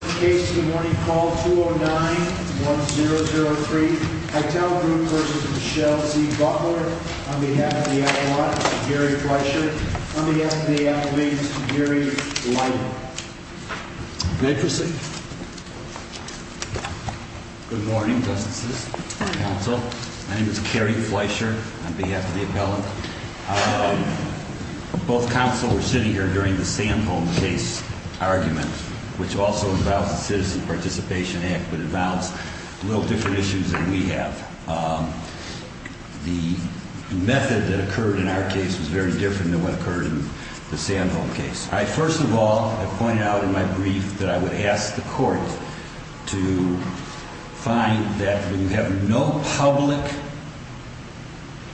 Case of the morning, call 209-1003, Hytel Group v. Michelle Z. Butler, on behalf of the appellant, Gary Fleischer, on behalf of the appellant, Gary Lytle. May I proceed? Good morning, Justices, Counsel. My name is Gary Fleischer, on behalf of the appellant. Both counsel were sitting here during the Sandholm case argument, which also involves the Citizen Participation Act, but involves a little different issues than we have. The method that occurred in our case was very different than what occurred in the Sandholm case. First of all, I pointed out in my brief that I would ask the Court to find that when you have no public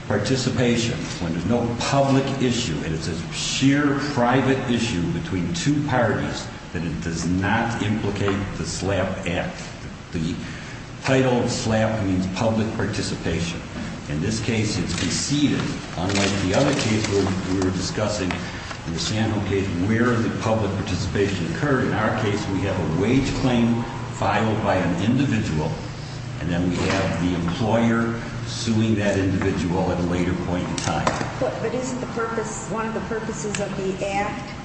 participation, when there's no public issue, and it's a sheer private issue between two parties, that it does not implicate the SLAPP Act. The title of SLAPP means public participation. In this case, it's preceded, unlike the other case where we were discussing in the Sandholm case where the public participation occurred. In our case, we have a wage claim filed by an individual, and then we have the employer suing that individual at a later point in time. But isn't the purpose, one of the purposes of the Act,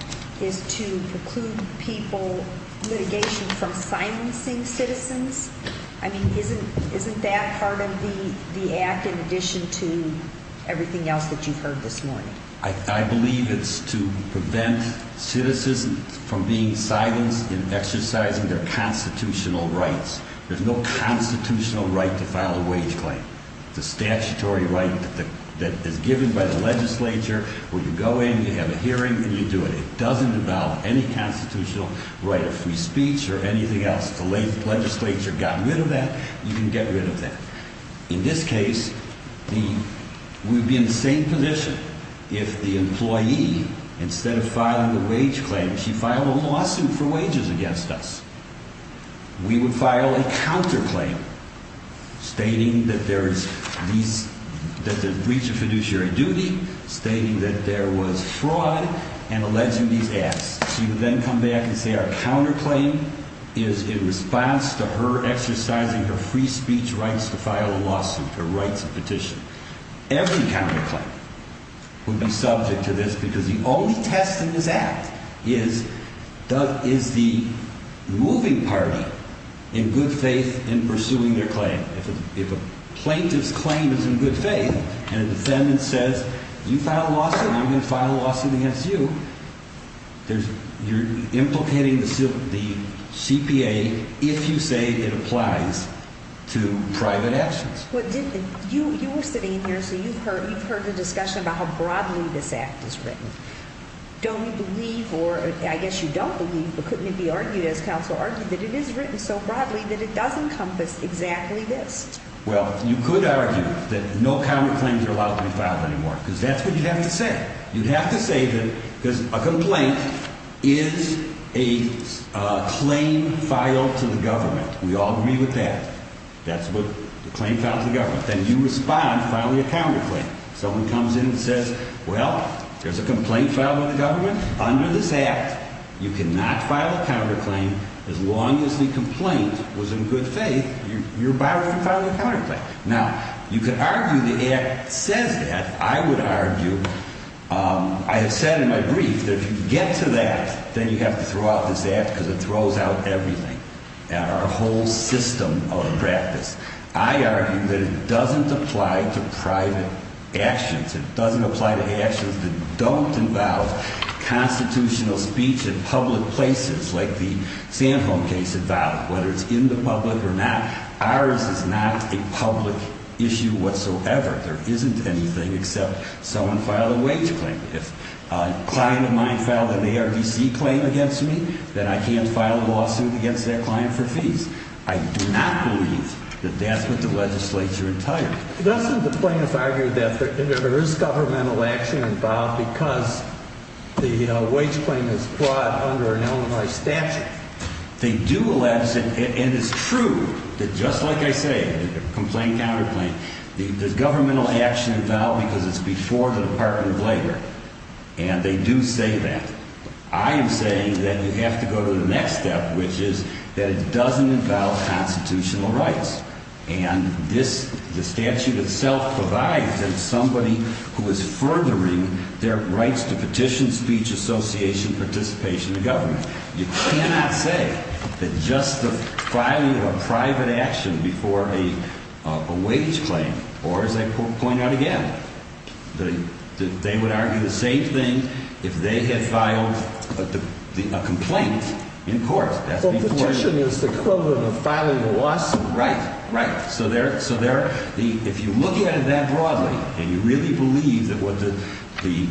is to preclude people, litigation, from silencing citizens? I mean, isn't that part of the Act in addition to everything else that you've heard this morning? I believe it's to prevent citizens from being silenced in exercising their constitutional rights. There's no constitutional right to file a wage claim. It's a statutory right that is given by the legislature where you go in, you have a hearing, and you do it. It doesn't involve any constitutional right of free speech or anything else. The legislature got rid of that. You can get rid of that. In this case, we'd be in the same position if the employee, instead of filing the wage claim, she filed a lawsuit for wages against us. We would file a counterclaim stating that there's breach of fiduciary duty, stating that there was fraud, and alleging these acts. She would then come back and say our counterclaim is in response to her exercising her free speech rights to file a lawsuit, her rights of petition. Every counterclaim would be subject to this because the only test in this Act is the moving party in good faith in pursuing their claim. If a plaintiff's claim is in good faith and a defendant says, you filed a lawsuit, I'm going to file a lawsuit against you, you're implicating the CPA if you say it applies to private actions. You were sitting here, so you've heard the discussion about how broadly this Act is written. Don't you believe, or I guess you don't believe, but couldn't it be argued as counsel argued that it is written so broadly that it does encompass exactly this? Well, you could argue that no counterclaims are allowed to be filed anymore because that's what you'd have to say. You'd have to say that because a complaint is a claim filed to the government. We all agree with that. That's what the claim filed to the government. Then you respond filing a counterclaim. Someone comes in and says, well, there's a complaint filed by the government. Under this Act, you cannot file a counterclaim as long as the complaint was in good faith, you're barred from filing a counterclaim. Now, you could argue the Act says that. I would argue, I have said in my brief that if you get to that, then you have to throw out this Act because it throws out everything, our whole system of practice. I argue that it doesn't apply to private actions. It doesn't apply to actions that don't involve constitutional speech in public places, like the Sandholm case involved, whether it's in the public or not. Ours is not a public issue whatsoever. There isn't anything except someone filed a wage claim. If a client of mine filed an ARDC claim against me, then I can't file a lawsuit against that client for fees. I do not believe that that's what the legislature entitled. Doesn't the plaintiff argue that there is governmental action involved because the wage claim is brought under an Illinois statute? They do, and it's true that just like I say, complaint, counterclaim, there's governmental action involved because it's before the Department of Labor. And they do say that. I am saying that you have to go to the next step, which is that it doesn't involve constitutional rights. And this, the statute itself provides that somebody who is furthering their rights to petition, speech, association, participation in government. You cannot say that just the filing of a private action before a wage claim, or as I point out again, that they would argue the same thing if they had filed a complaint in court. So petition is the equivalent of filing a lawsuit? Right, right. So if you look at it that broadly and you really believe that what the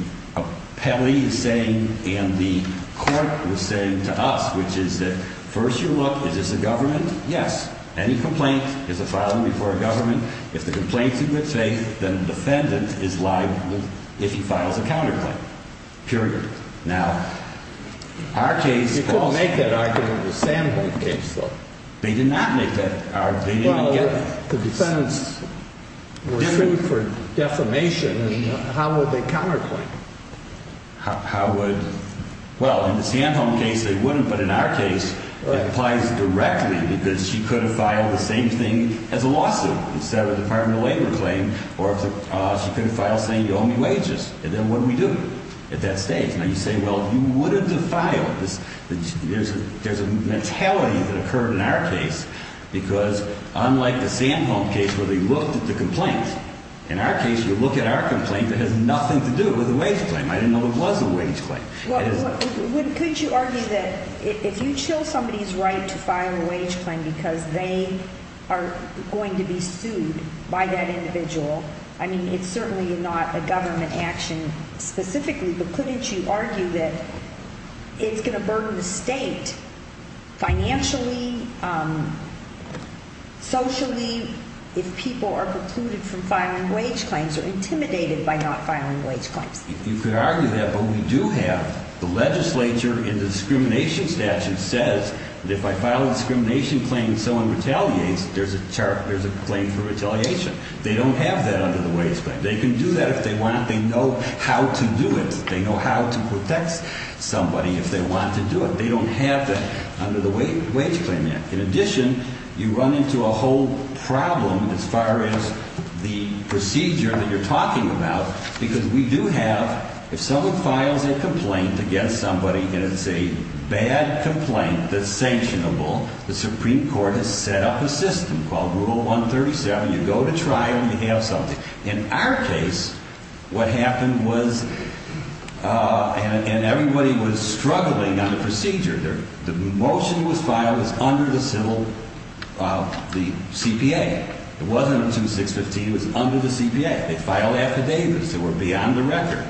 appellee is saying and the court was saying to us, which is that first you look, is this a government? Yes. Any complaint is a filing before a government. If the complaint's in good faith, then the defendant is liable if he files a counterclaim, period. Now, our case. You couldn't make that argument in the Sandholm case, though. They did not make that argument. Well, the defendants were sued for defamation. How would they counterclaim? Well, in the Sandholm case, they wouldn't. But in our case, it applies directly because she could have filed the same thing as a lawsuit instead of a Department of Labor claim. Or she could have filed saying you owe me wages. And then what do we do at that stage? Now, you say, well, you wouldn't have filed. There's a mentality that occurred in our case because unlike the Sandholm case where they looked at the complaint, in our case, you look at our complaint that has nothing to do with a wage claim. I didn't know it was a wage claim. Well, could you argue that if you show somebody's right to file a wage claim because they are going to be sued by that individual, I mean, it's certainly not a government action specifically, but couldn't you argue that it's going to burden the state financially, socially, if people are precluded from filing wage claims or intimidated by not filing wage claims? You could argue that, but we do have the legislature in the discrimination statute says that if I file a discrimination claim and someone retaliates, there's a claim for retaliation. They don't have that under the Wage Claim Act. They can do that if they want. They know how to do it. They know how to protect somebody if they want to do it. They don't have that under the Wage Claim Act. In addition, you run into a whole problem as far as the procedure that you're talking about because we do have, if someone files a complaint against somebody and it's a bad complaint that's sanctionable, the Supreme Court has set up a system called Rule 137. You go to trial and you have something. In our case, what happened was, and everybody was struggling on the procedure. The motion was filed as under the civil, the CPA. It wasn't under 2615, it was under the CPA. They filed affidavits that were beyond the record.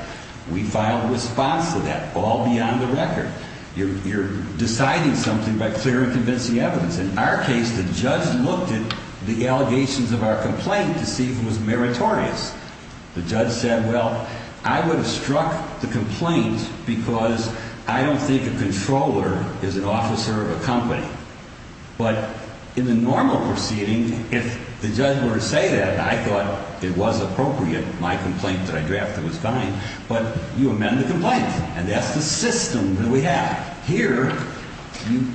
We filed a response to that, all beyond the record. You're deciding something by clear and convincing evidence. In our case, the judge looked at the allegations of our complaint to see if it was meritorious. The judge said, well, I would have struck the complaint because I don't think a controller is an officer of a company. But in the normal proceeding, if the judge were to say that, I thought it was appropriate. My complaint that I drafted was fine. But you amend the complaint. And that's the system that we have. Here,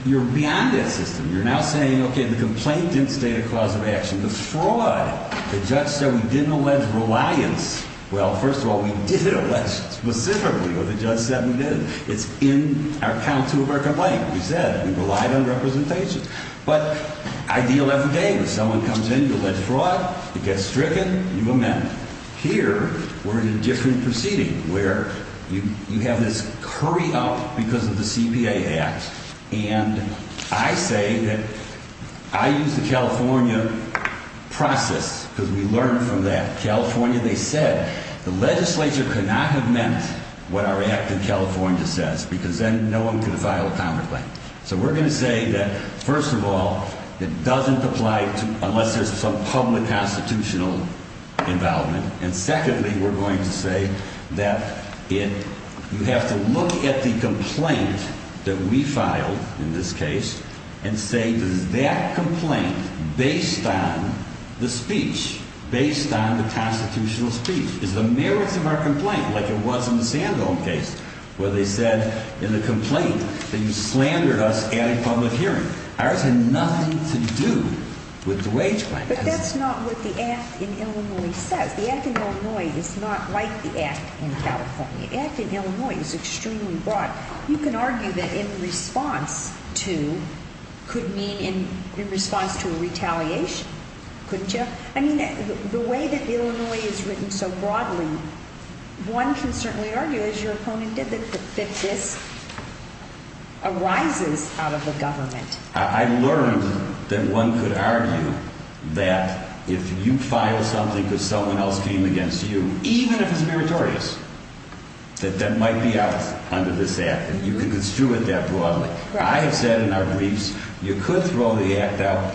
you're beyond that system. You're now saying, okay, the complaint didn't state a cause of action. The fraud, the judge said we didn't allege reliance. Well, first of all, we did allege specifically what the judge said we did. It's in our count two of our complaint. We said we relied on representation. But I deal every day. If someone comes in, you allege fraud, it gets stricken, you amend. Here, we're in a different proceeding where you have this hurry up because of the CPA Act. And I say that I use the California process because we learned from that. In California, they said the legislature could not have meant what our act in California says because then no one could file a counterclaim. So we're going to say that, first of all, it doesn't apply unless there's some public constitutional involvement. And secondly, we're going to say that you have to look at the complaint that we filed in this case and say, does that complaint, based on the speech, based on the constitutional speech, is the merits of our complaint, like it was in the Sandholm case where they said in the complaint that you slandered us. And in public hearing, ours had nothing to do with the wage claim. But that's not what the act in Illinois says. The act in Illinois is not like the act in California. The act in Illinois is extremely broad. You can argue that in response to could mean in response to a retaliation, couldn't you? I mean, the way that the Illinois is written so broadly, one can certainly argue, as your opponent did, that this arises out of the government. I learned that one could argue that if you file something because someone else came against you, even if it's meritorious, that that might be out under this act. And you can construe it that broadly. I have said in our briefs, you could throw the act out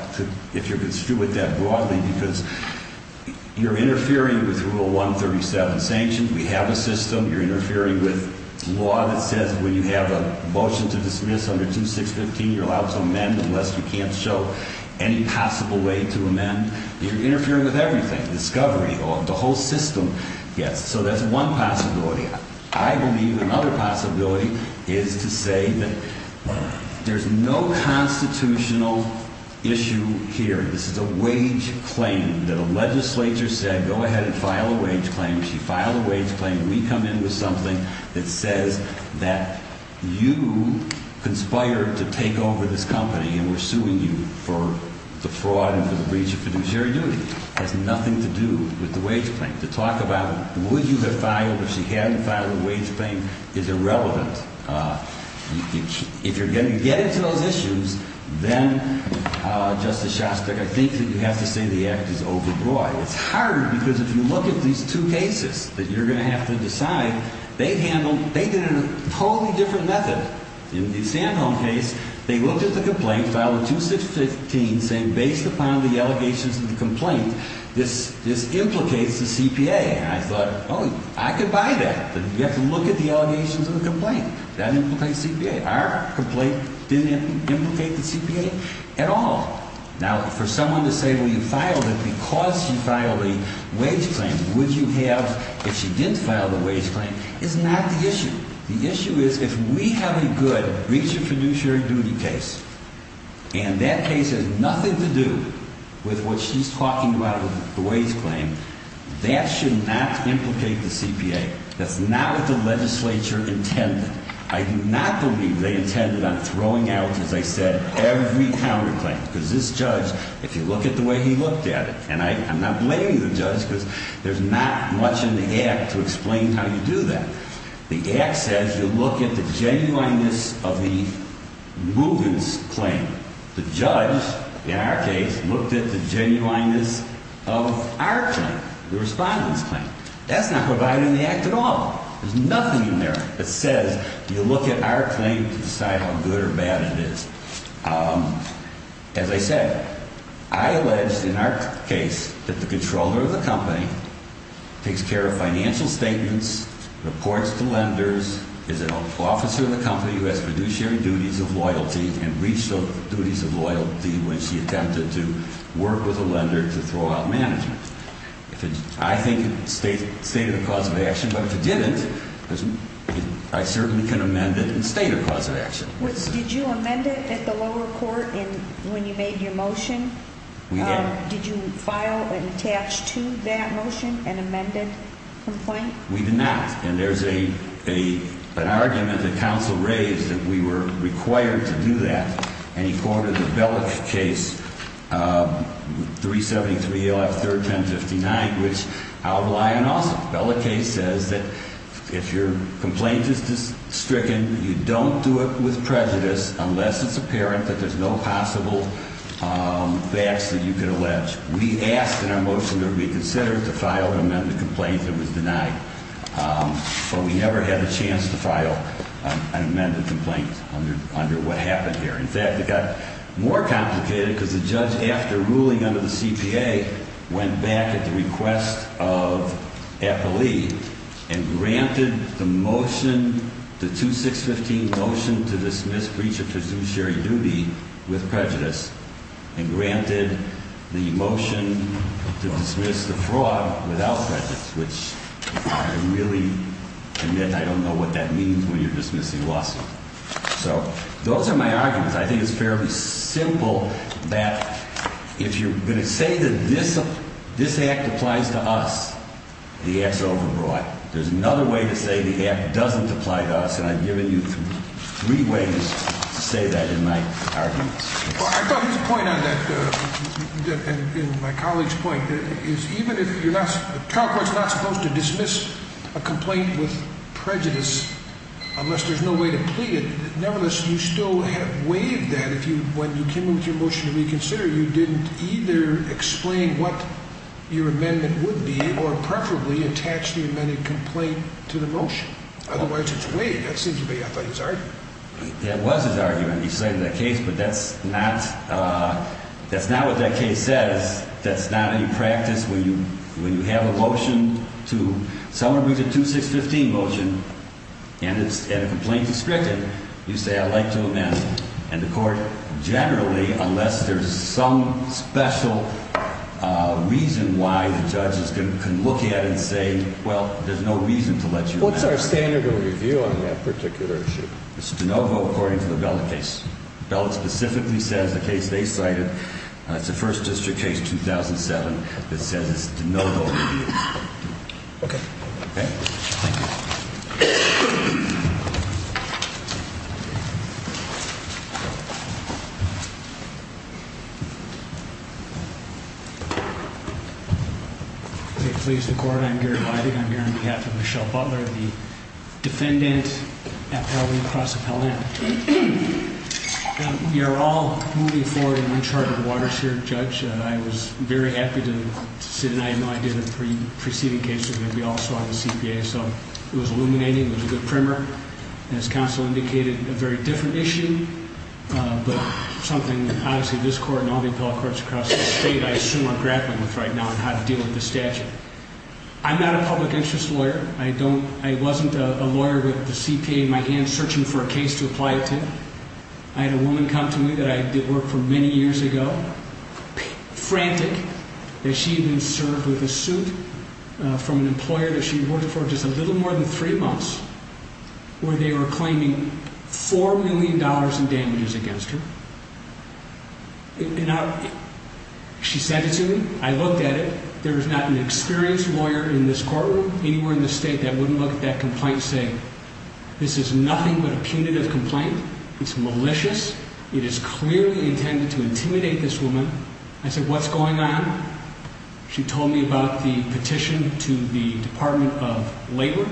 if you're construed with that broadly, because you're interfering with Rule 137 sanctions. We have a system. You're interfering with law that says when you have a motion to dismiss under 2615, you're allowed to amend unless you can't show any possible way to amend. You're interfering with everything, discovery, the whole system. Yes. So that's one possibility. I believe another possibility is to say that there's no constitutional issue here. This is a wage claim that a legislature said, go ahead and file a wage claim. She filed a wage claim. We come in with something that says that you conspired to take over this company and we're suing you for the fraud and for the breach of fiduciary duty. It has nothing to do with the wage claim. To talk about would you have filed if she hadn't filed a wage claim is irrelevant. If you're going to get into those issues, then, Justice Shostak, I think that you have to say the act is overbroad. It's hard because if you look at these two cases that you're going to have to decide, they handled – they did it in a totally different method. In the Sandholm case, they looked at the complaint, filed a 2615, saying based upon the allegations of the complaint, this implicates the CPA. And I thought, oh, I could buy that. You have to look at the allegations of the complaint. That implicates CPA. Our complaint didn't implicate the CPA at all. Now, for someone to say, well, you filed it because she filed a wage claim, would you have if she didn't file the wage claim, is not the issue. The issue is if we have a good breach of fiduciary duty case and that case has nothing to do with what she's talking about with the wage claim, that should not implicate the CPA. That's not what the legislature intended. I do not believe they intended on throwing out, as I said, every counterclaim because this judge, if you look at the way he looked at it – and I'm not blaming the judge because there's not much in the act to explain how you do that. The act says you look at the genuineness of the movement's claim. The judge, in our case, looked at the genuineness of our claim, the respondent's claim. That's not provided in the act at all. There's nothing in there that says you look at our claim to decide how good or bad it is. As I said, I allege in our case that the controller of the company takes care of financial statements, reports to lenders, is an officer of the company who has fiduciary duties of loyalty and breached those duties of loyalty when she attempted to work with a lender to throw out management. I think it stated a cause of action, but if it didn't, I certainly can amend it and state a cause of action. Did you amend it at the lower court when you made your motion? We did. Did you file and attach to that motion an amended complaint? We did not. And there's an argument that counsel raised that we were required to do that, and he quoted the Bellick case, 373 ALF 3rd 1059, which I'll rely on also. Bellick case says that if your complaint is stricken, you don't do it with prejudice unless it's apparent that there's no possible facts that you could allege. We asked in our motion to reconsider to file an amended complaint that was denied, but we never had a chance to file an amended complaint under what happened here. In fact, it got more complicated because the judge, after ruling under the CPA, went back at the request of Appley and granted the motion, the 2615 motion to dismiss breach of fiduciary duty with prejudice and granted the motion to dismiss the fraud without prejudice, which I really admit I don't know what that means when you're dismissing a lawsuit. So those are my arguments. I think it's fairly simple that if you're going to say that this act applies to us, the act's overbrought. There's another way to say the act doesn't apply to us, and I've given you three ways to say that in my arguments. Well, I thought his point on that, and my colleague's point, is even if you're not, the trial court's not supposed to dismiss a complaint with prejudice unless there's no way to plead it. Nevertheless, you still have waived that if you, when you came in with your motion to reconsider, you didn't either explain what your amendment would be or preferably attach the amended complaint to the motion. Otherwise, it's waived. That seems to be, I thought, his argument. That was his argument. He cited that case, but that's not what that case says. That's not any practice. When you have a motion to, someone brings a 2615 motion and a complaint is restricted, you say, I'd like to amend. And the court generally, unless there's some special reason why, the judge can look at it and say, well, there's no reason to let you amend. What's our standard of review on that particular issue? It's de novo, according to the Bella case. Bella specifically says the case they cited, it's a First District case, 2007, that says it's de novo review. Okay. Okay. Thank you. I'm very happy to sit in. I had no idea the three preceding cases that we all saw in the CPA, so it was illuminating. It was a good primer. As counsel indicated, a very different issue, but something, obviously, this court and all the appellate courts across the state, I assume, are grappling with right now on how to deal with this statute. I'm not a public interest lawyer. I don't, I wasn't a lawyer with the CPA in my hands searching for a case to apply it to. I had a woman come to me that I did work for many years ago, frantic, that she had been served with a suit from an employer that she had worked for just a little more than three months, where they were claiming $4 million in damages against her. And she said to me, I looked at it, there is not an experienced lawyer in this courtroom anywhere in the state that wouldn't look at that complaint and say, this is nothing but a punitive complaint. It's malicious. It is clearly intended to intimidate this woman. I said, what's going on? She told me about the petition to the Department of Labor.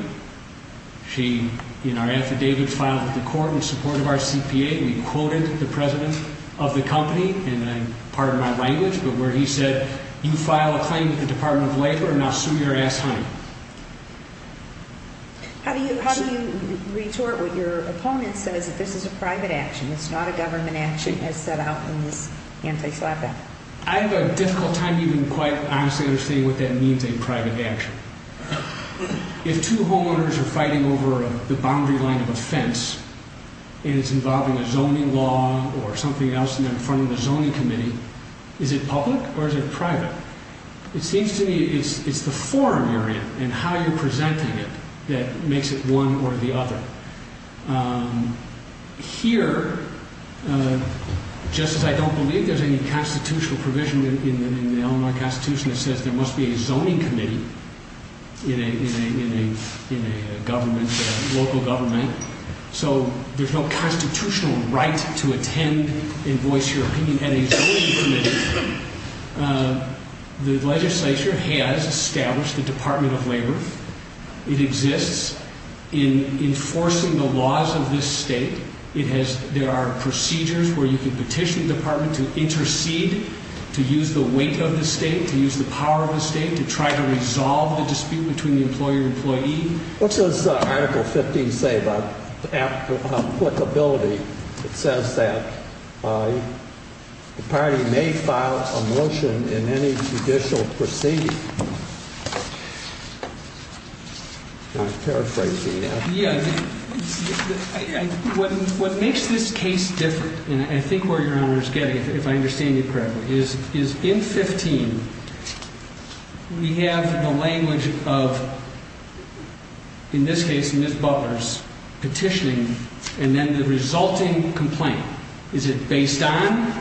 She, in our affidavit filed with the court in support of our CPA, we quoted the president of the company, and pardon my language, but where he said, you file a claim with the Department of Labor and I'll sue your ass, honey. How do you retort what your opponent says, that this is a private action, it's not a government action as set out in this anti-slap act? I have a difficult time even quite honestly understanding what that means, a private action. If two homeowners are fighting over the boundary line of a fence, and it's involving a zoning law or something else, and they're in front of a zoning committee, is it public or is it private? It seems to me it's the forum you're in and how you're presenting it that makes it one or the other. Here, just as I don't believe there's any constitutional provision in the Illinois Constitution that says there must be a zoning committee in a government, local government, so there's no constitutional right to attend and voice your opinion at a zoning committee. The legislature has established the Department of Labor. It exists in enforcing the laws of this state. There are procedures where you can petition the department to intercede, to use the weight of the state, to use the power of the state, to try to resolve the dispute between the employer and employee. What does Article 15 say about applicability? It says that the party may file a motion in any judicial proceeding. I'm paraphrasing that. Yeah. What makes this case different, and I think where Your Honor is getting, if I understand you correctly, is in 15, we have the language of, in this case, Ms. Butler's petitioning, and then the resulting complaint. Is it based on,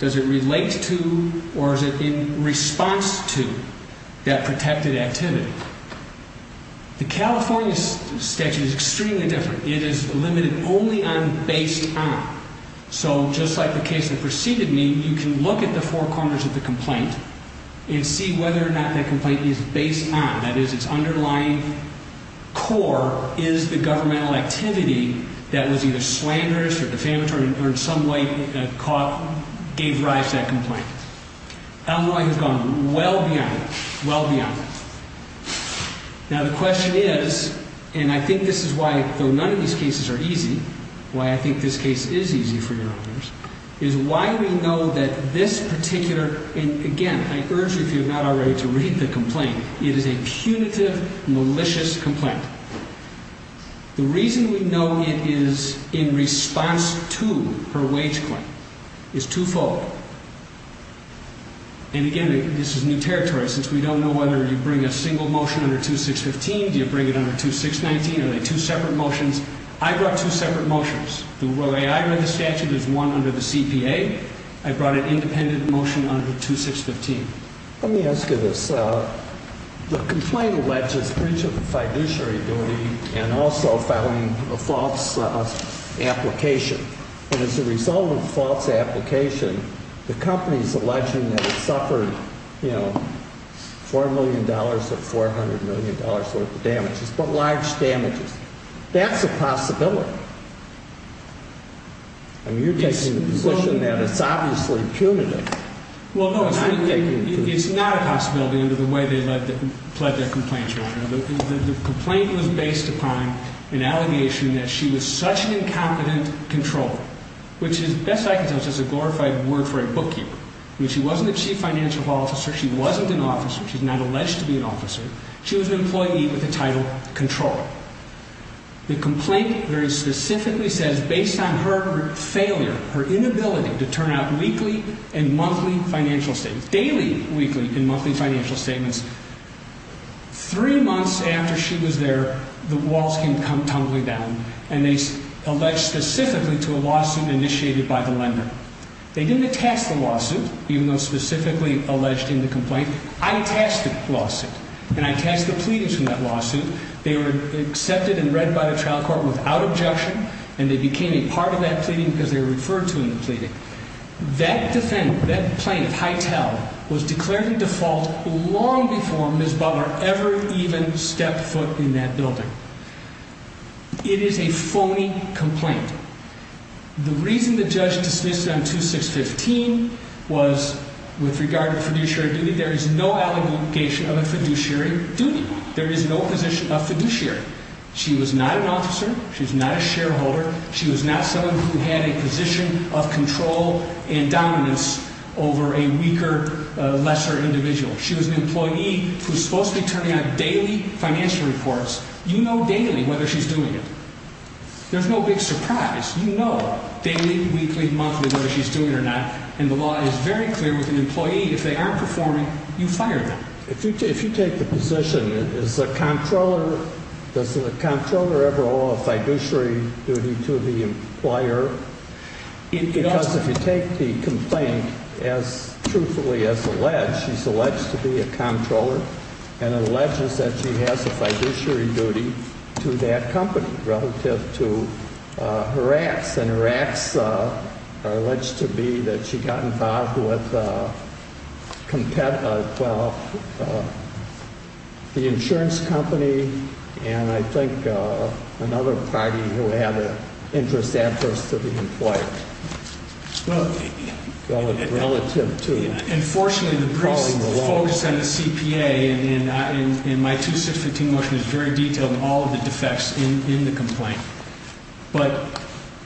does it relate to, or is it in response to that protected activity? The California statute is extremely different. It is limited only on based on. So just like the case that preceded me, you can look at the four corners of the complaint and see whether or not that complaint is based on. That is, its underlying core is the governmental activity that was either slanderous or defamatory or in some way gave rise to that complaint. Illinois has gone well beyond, well beyond. Now the question is, and I think this is why, though none of these cases are easy, why I think this case is easy for Your Honors, is why we know that this particular, and again, I urge you if you have not already to read the complaint, it is a punitive, malicious complaint. The reason we know it is in response to her wage claim is twofold. And again, this is new territory, since we don't know whether you bring a single motion under 2615, do you bring it under 2619, are they two separate motions? I brought two separate motions. The way I read the statute is one under the CPA. I brought an independent motion under 2615. Let me ask you this. The complaint alleges breach of fiduciary duty and also filing a false application. And as a result of the false application, the company is alleging that it suffered, you know, $4 million or $400 million worth of damages, but large damages. That's a possibility. I mean, you're taking the position that it's obviously punitive. Well, no, it's not a possibility under the way they pled their complaints, Your Honor. The complaint was based upon an allegation that she was such an incompetent controller, which is, best I can tell, is a glorified word for a bookkeeper. I mean, she wasn't a chief financial officer. She wasn't an officer. She's not alleged to be an officer. She was an employee with the title controller. The complaint very specifically says, based on her failure, her inability to turn out weekly and monthly financial statements, daily, weekly, and monthly financial statements, three months after she was there, the walls came tumbling down, and they alleged specifically to a lawsuit initiated by the lender. They didn't attest the lawsuit, even though specifically alleged in the complaint. I attested the lawsuit, and I attested the pleadings from that lawsuit. They were accepted and read by the trial court without objection, and they became a part of that pleading because they were referred to in the pleading. That defendant, that plaintiff, Hytel, was declared a default long before Ms. Butler ever even stepped foot in that building. It is a phony complaint. The reason the judge dismissed it on 2615 was, with regard to fiduciary duty, there is no allegation of a fiduciary duty. There is no position of fiduciary. She was not an officer. She's not a shareholder. She was not someone who had a position of control and dominance over a weaker, lesser individual. She was an employee who's supposed to be turning out daily financial reports. You know daily whether she's doing it. There's no big surprise. You know daily, weekly, monthly whether she's doing it or not, and the law is very clear with an employee. If they aren't performing, you fire them. If you take the position, does the comptroller ever owe a fiduciary duty to the employer? Because if you take the complaint, as truthfully as alleged, she's alleged to be a comptroller, and it alleges that she has a fiduciary duty to that company relative to her acts. And her acts are alleged to be that she got involved with the insurance company, and I think another party who had an interest adverse to the employer. But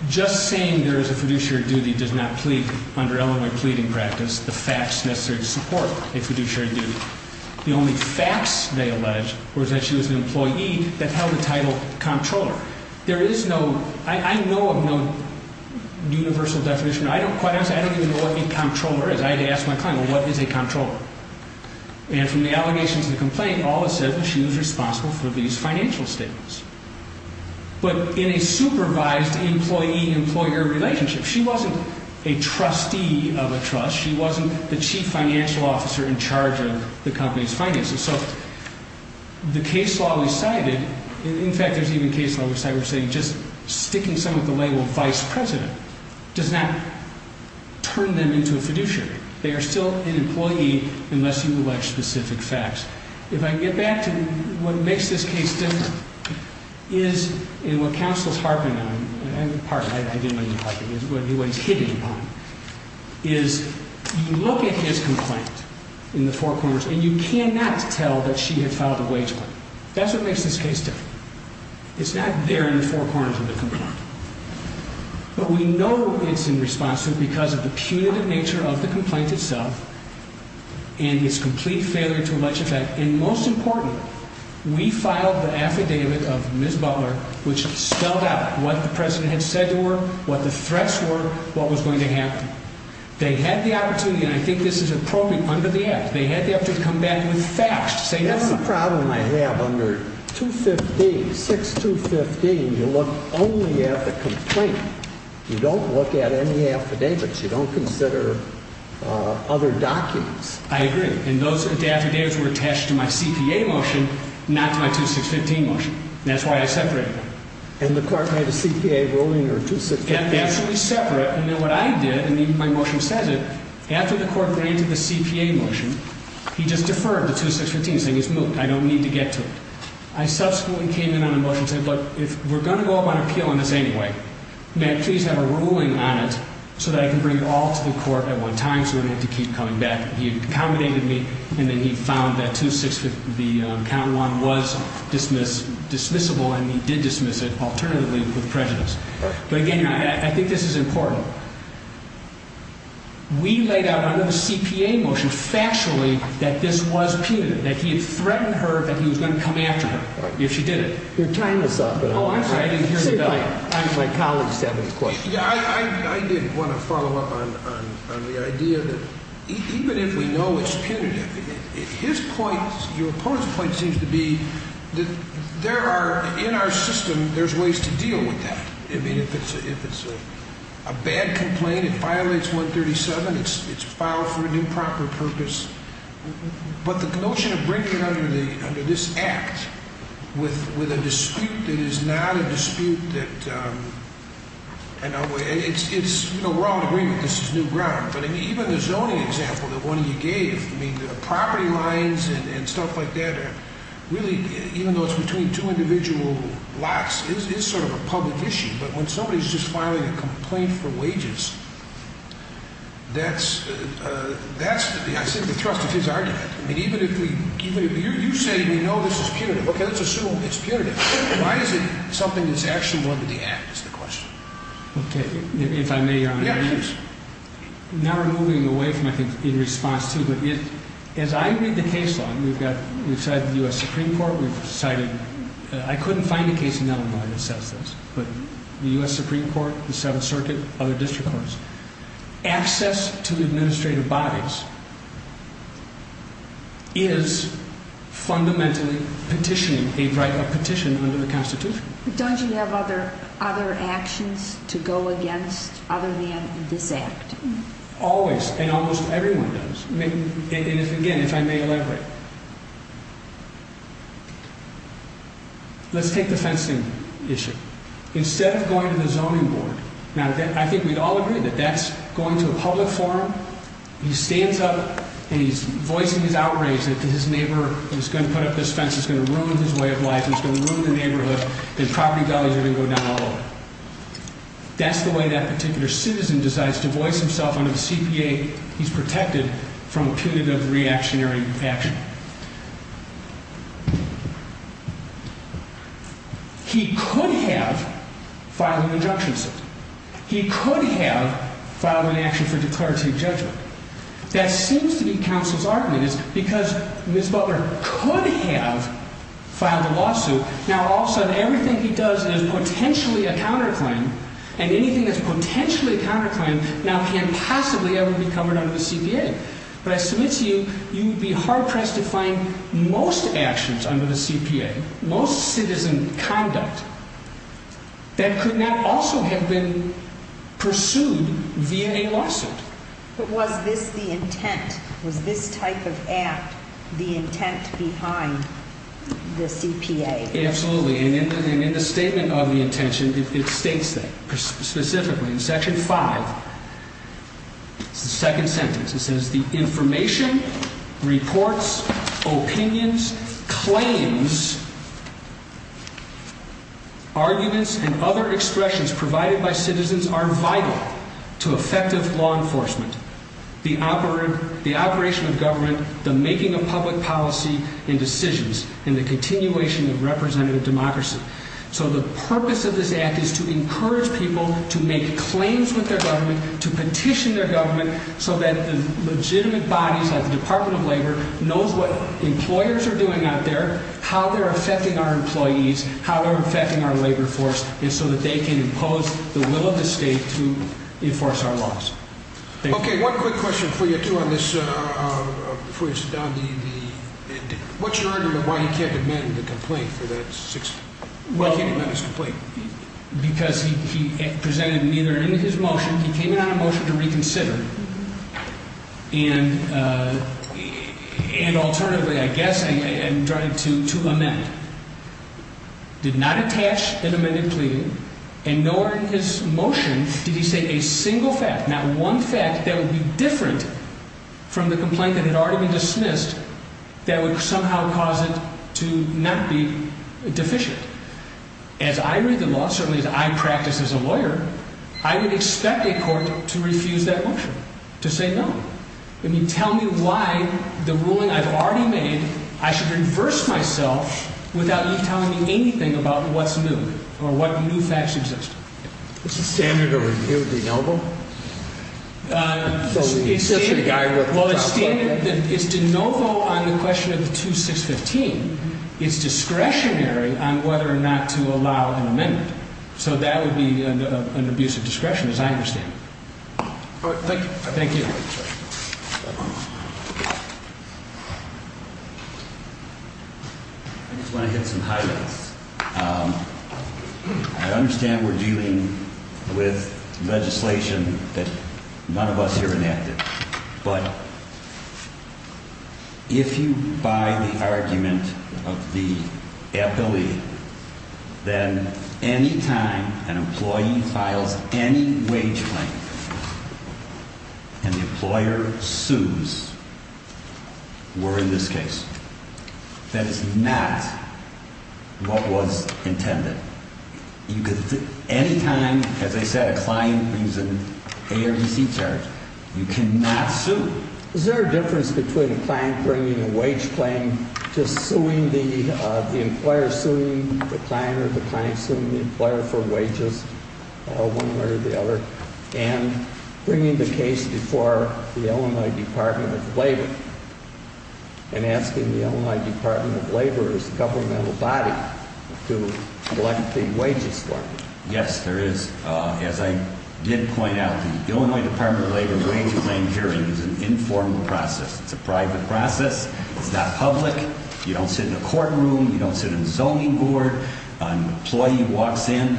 just saying there is a fiduciary duty does not plead under Illinois pleading practice the facts necessary to support a fiduciary duty. The only facts they allege was that she was an employee that held the title comptroller. I know of no universal definition. I don't quite understand. I don't even know what a comptroller is. I had to ask my client, well, what is a comptroller? And from the allegations of the complaint, all it says is she was responsible for these financial statements. But in a supervised employee-employer relationship, she wasn't a trustee of a trust. She wasn't the chief financial officer in charge of the company's finances. So the case law we cited, in fact, there's even a case law we're saying just sticking someone with the label vice president does not turn them into a fiduciary. They are still an employee unless you allege specific facts. If I can get back to what makes this case different is, and what counsel's harping on, pardon, I didn't mean to harp on, what he's hitting upon, is you look at his complaint in the four corners and you cannot tell that she had filed a wage claim. That's what makes this case different. It's not there in the four corners of the complaint. But we know it's in response to it because of the punitive nature of the complaint itself and its complete failure to legislate. And most important, we filed the affidavit of Ms. Butler, which spelled out what the president had said to her, what the threats were, what was going to happen. They had the opportunity, and I think this is appropriate, under the act. They had the opportunity to come back with facts. That's the problem I have. Under 215, 6215, you look only at the complaint. You don't look at any affidavits. You don't consider other documents. I agree. And those affidavits were attached to my CPA motion, not to my 2615 motion. That's why I separated them. And the court made a CPA ruling or 2615? Absolutely separate. And then what I did, and even my motion says it, after the court granted the CPA motion, he just deferred to 2615, saying he's moved. I don't need to get to it. I subsequently came in on a motion and said, look, if we're going to go up on appeal on this anyway, may I please have a ruling on it so that I can bring it all to the court at one time so I don't have to keep coming back? He accommodated me, and then he found that 2615 was dismissible, and he did dismiss it alternatively with prejudice. But again, I think this is important. We laid out under the CPA motion factually that this was punitive, that he had threatened her that he was going to come after her if she did it. You're tying this up. Oh, I'm sorry. I didn't hear the bell. Even if we know it's punitive, his point, your opponent's point seems to be that there are, in our system, there's ways to deal with that. I mean, if it's a bad complaint, it violates 137, it's filed for an improper purpose. But the notion of bringing it under this act with a dispute that is not a dispute that – we're all in agreement that this is new ground. But even the zoning example that one of you gave, I mean, the property lines and stuff like that are really – even though it's between two individual lots, it is sort of a public issue. But when somebody's just filing a complaint for wages, that's, I think, the thrust of his argument. I mean, even if we – you say we know this is punitive. Okay, let's assume it's punitive. Why is it something that's actually under the act is the question. Okay, if I may, Your Honor. Yeah, please. Now we're moving away from, I think, in response to, but as I read the case law, we've got – we've cited the U.S. Supreme Court, we've cited – I couldn't find a case in Illinois that says this. But the U.S. Supreme Court, the Seventh Circuit, other district courts, access to administrative bodies is fundamentally petitioning a right of petition under the Constitution. But don't you have other actions to go against other than this act? Always, and almost everyone does. Again, if I may elaborate. Let's take the fencing issue. Instead of going to the zoning board – now, I think we'd all agree that that's going to a public forum, he stands up and he's voicing his outrage that his neighbor is going to put up this fence, is going to ruin his way of life, is going to ruin the neighborhood, and property values are going to go down all over. That's the way that particular citizen decides to voice himself under the CPA he's protected from punitive reactionary action. He could have filed an injunction suit. He could have filed an action for declarative judgment. That seems to be counsel's argument. It's because Ms. Butler could have filed a lawsuit. Now, all of a sudden, everything he does is potentially a counterclaim, and anything that's potentially a counterclaim now can't possibly ever be covered under the CPA. But I submit to you, you would be hard-pressed to find most actions under the CPA, most citizen conduct, that could not also have been pursued via a lawsuit. But was this the intent? Was this type of act the intent behind the CPA? Absolutely. And in the statement of the intention, it states that. Specifically, in Section 5, the second sentence, it says, Opinions, claims, arguments, and other expressions provided by citizens are vital to effective law enforcement. The operation of government, the making of public policy and decisions, and the continuation of representative democracy. So the purpose of this act is to encourage people to make claims with their government, to petition their government, so that the legitimate bodies, like the Department of Labor, knows what employers are doing out there, how they're affecting our employees, how they're affecting our labor force, and so that they can impose the will of the state to enforce our laws. Okay, one quick question for you, too, on this, before you sit down. What's your argument why he can't amend the complaint for that? Why can't he amend his complaint? Because he presented neither in his motion, he came in on a motion to reconsider, and alternatively, I guess, tried to amend. Did not attach an amended plea, and nor in his motion did he say a single fact, not one fact that would be different from the complaint that had already been dismissed, that would somehow cause it to not be deficient. As I read the law, certainly as I practice as a lawyer, I would expect a court to refuse that motion, to say no. I mean, tell me why the ruling I've already made, I should reverse myself without you telling me anything about what's new, or what new facts exist. It's a standard of review, de novo? It's standard, it's de novo on the question of the 2615. It's discretionary on whether or not to allow an amendment. So that would be an abuse of discretion, as I understand it. All right, thank you. Thank you. I just want to hit some highlights. I understand we're dealing with legislation that none of us here enacted, but if you buy the argument of the FLE, then any time an employee files any wage claim and the employer sues, we're in this case. That is not what was intended. Any time, as I said, a client brings an ARDC charge, you cannot sue. Is there a difference between a client bringing a wage claim to suing the employer, suing the client, or the client suing the employer for wages, one way or the other, and bringing the case before the Illinois Department of Labor and asking the Illinois Department of Labor's governmental body to collect the wages for them? Yes, there is. As I did point out, the Illinois Department of Labor wage claim hearing is an informal process. It's a private process. It's not public. You don't sit in a courtroom. You don't sit in a zoning board. An employee walks in.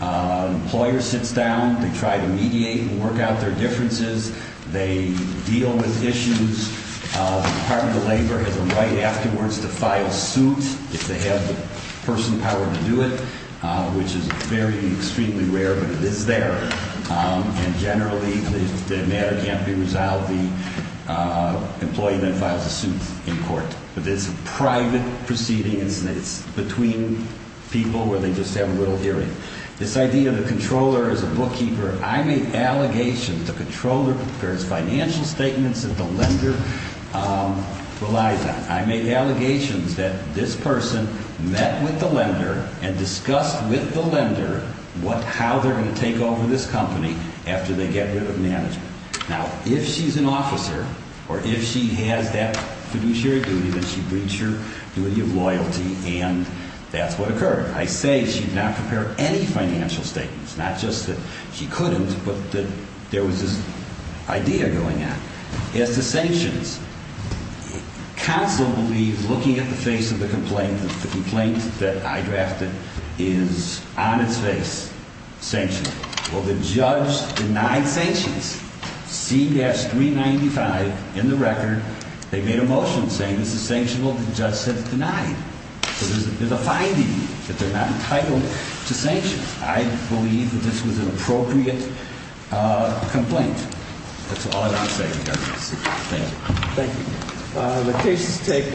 An employer sits down. They try to mediate and work out their differences. They deal with issues. The Department of Labor has a right afterwards to file suit if they have the person power to do it, which is very, extremely rare, but it is there. And generally, if the matter can't be resolved, the employee then files a suit in court. But it's a private proceeding. It's between people where they just have a little hearing. This idea of the controller as a bookkeeper, I made allegations the controller prepares financial statements that the lender relies on. I made allegations that this person met with the lender and discussed with the lender how they're going to take over this company after they get rid of management. Now, if she's an officer or if she has that fiduciary duty, then she breached her duty of loyalty, and that's what occurred. I say she did not prepare any financial statements, not just that she couldn't, but that there was this idea going on. As to sanctions, counsel believes, looking at the face of the complaint, the complaint that I drafted is on its face, sanctioned. Well, the judge denied sanctions. C-395 in the record, they made a motion saying this is sanctioned. Well, the judge said it's denied. So there's a finding that they're not entitled to sanctions. I believe that this was an appropriate complaint. That's all I have to say, Your Honor. Thank you. Thank you. The case is taken.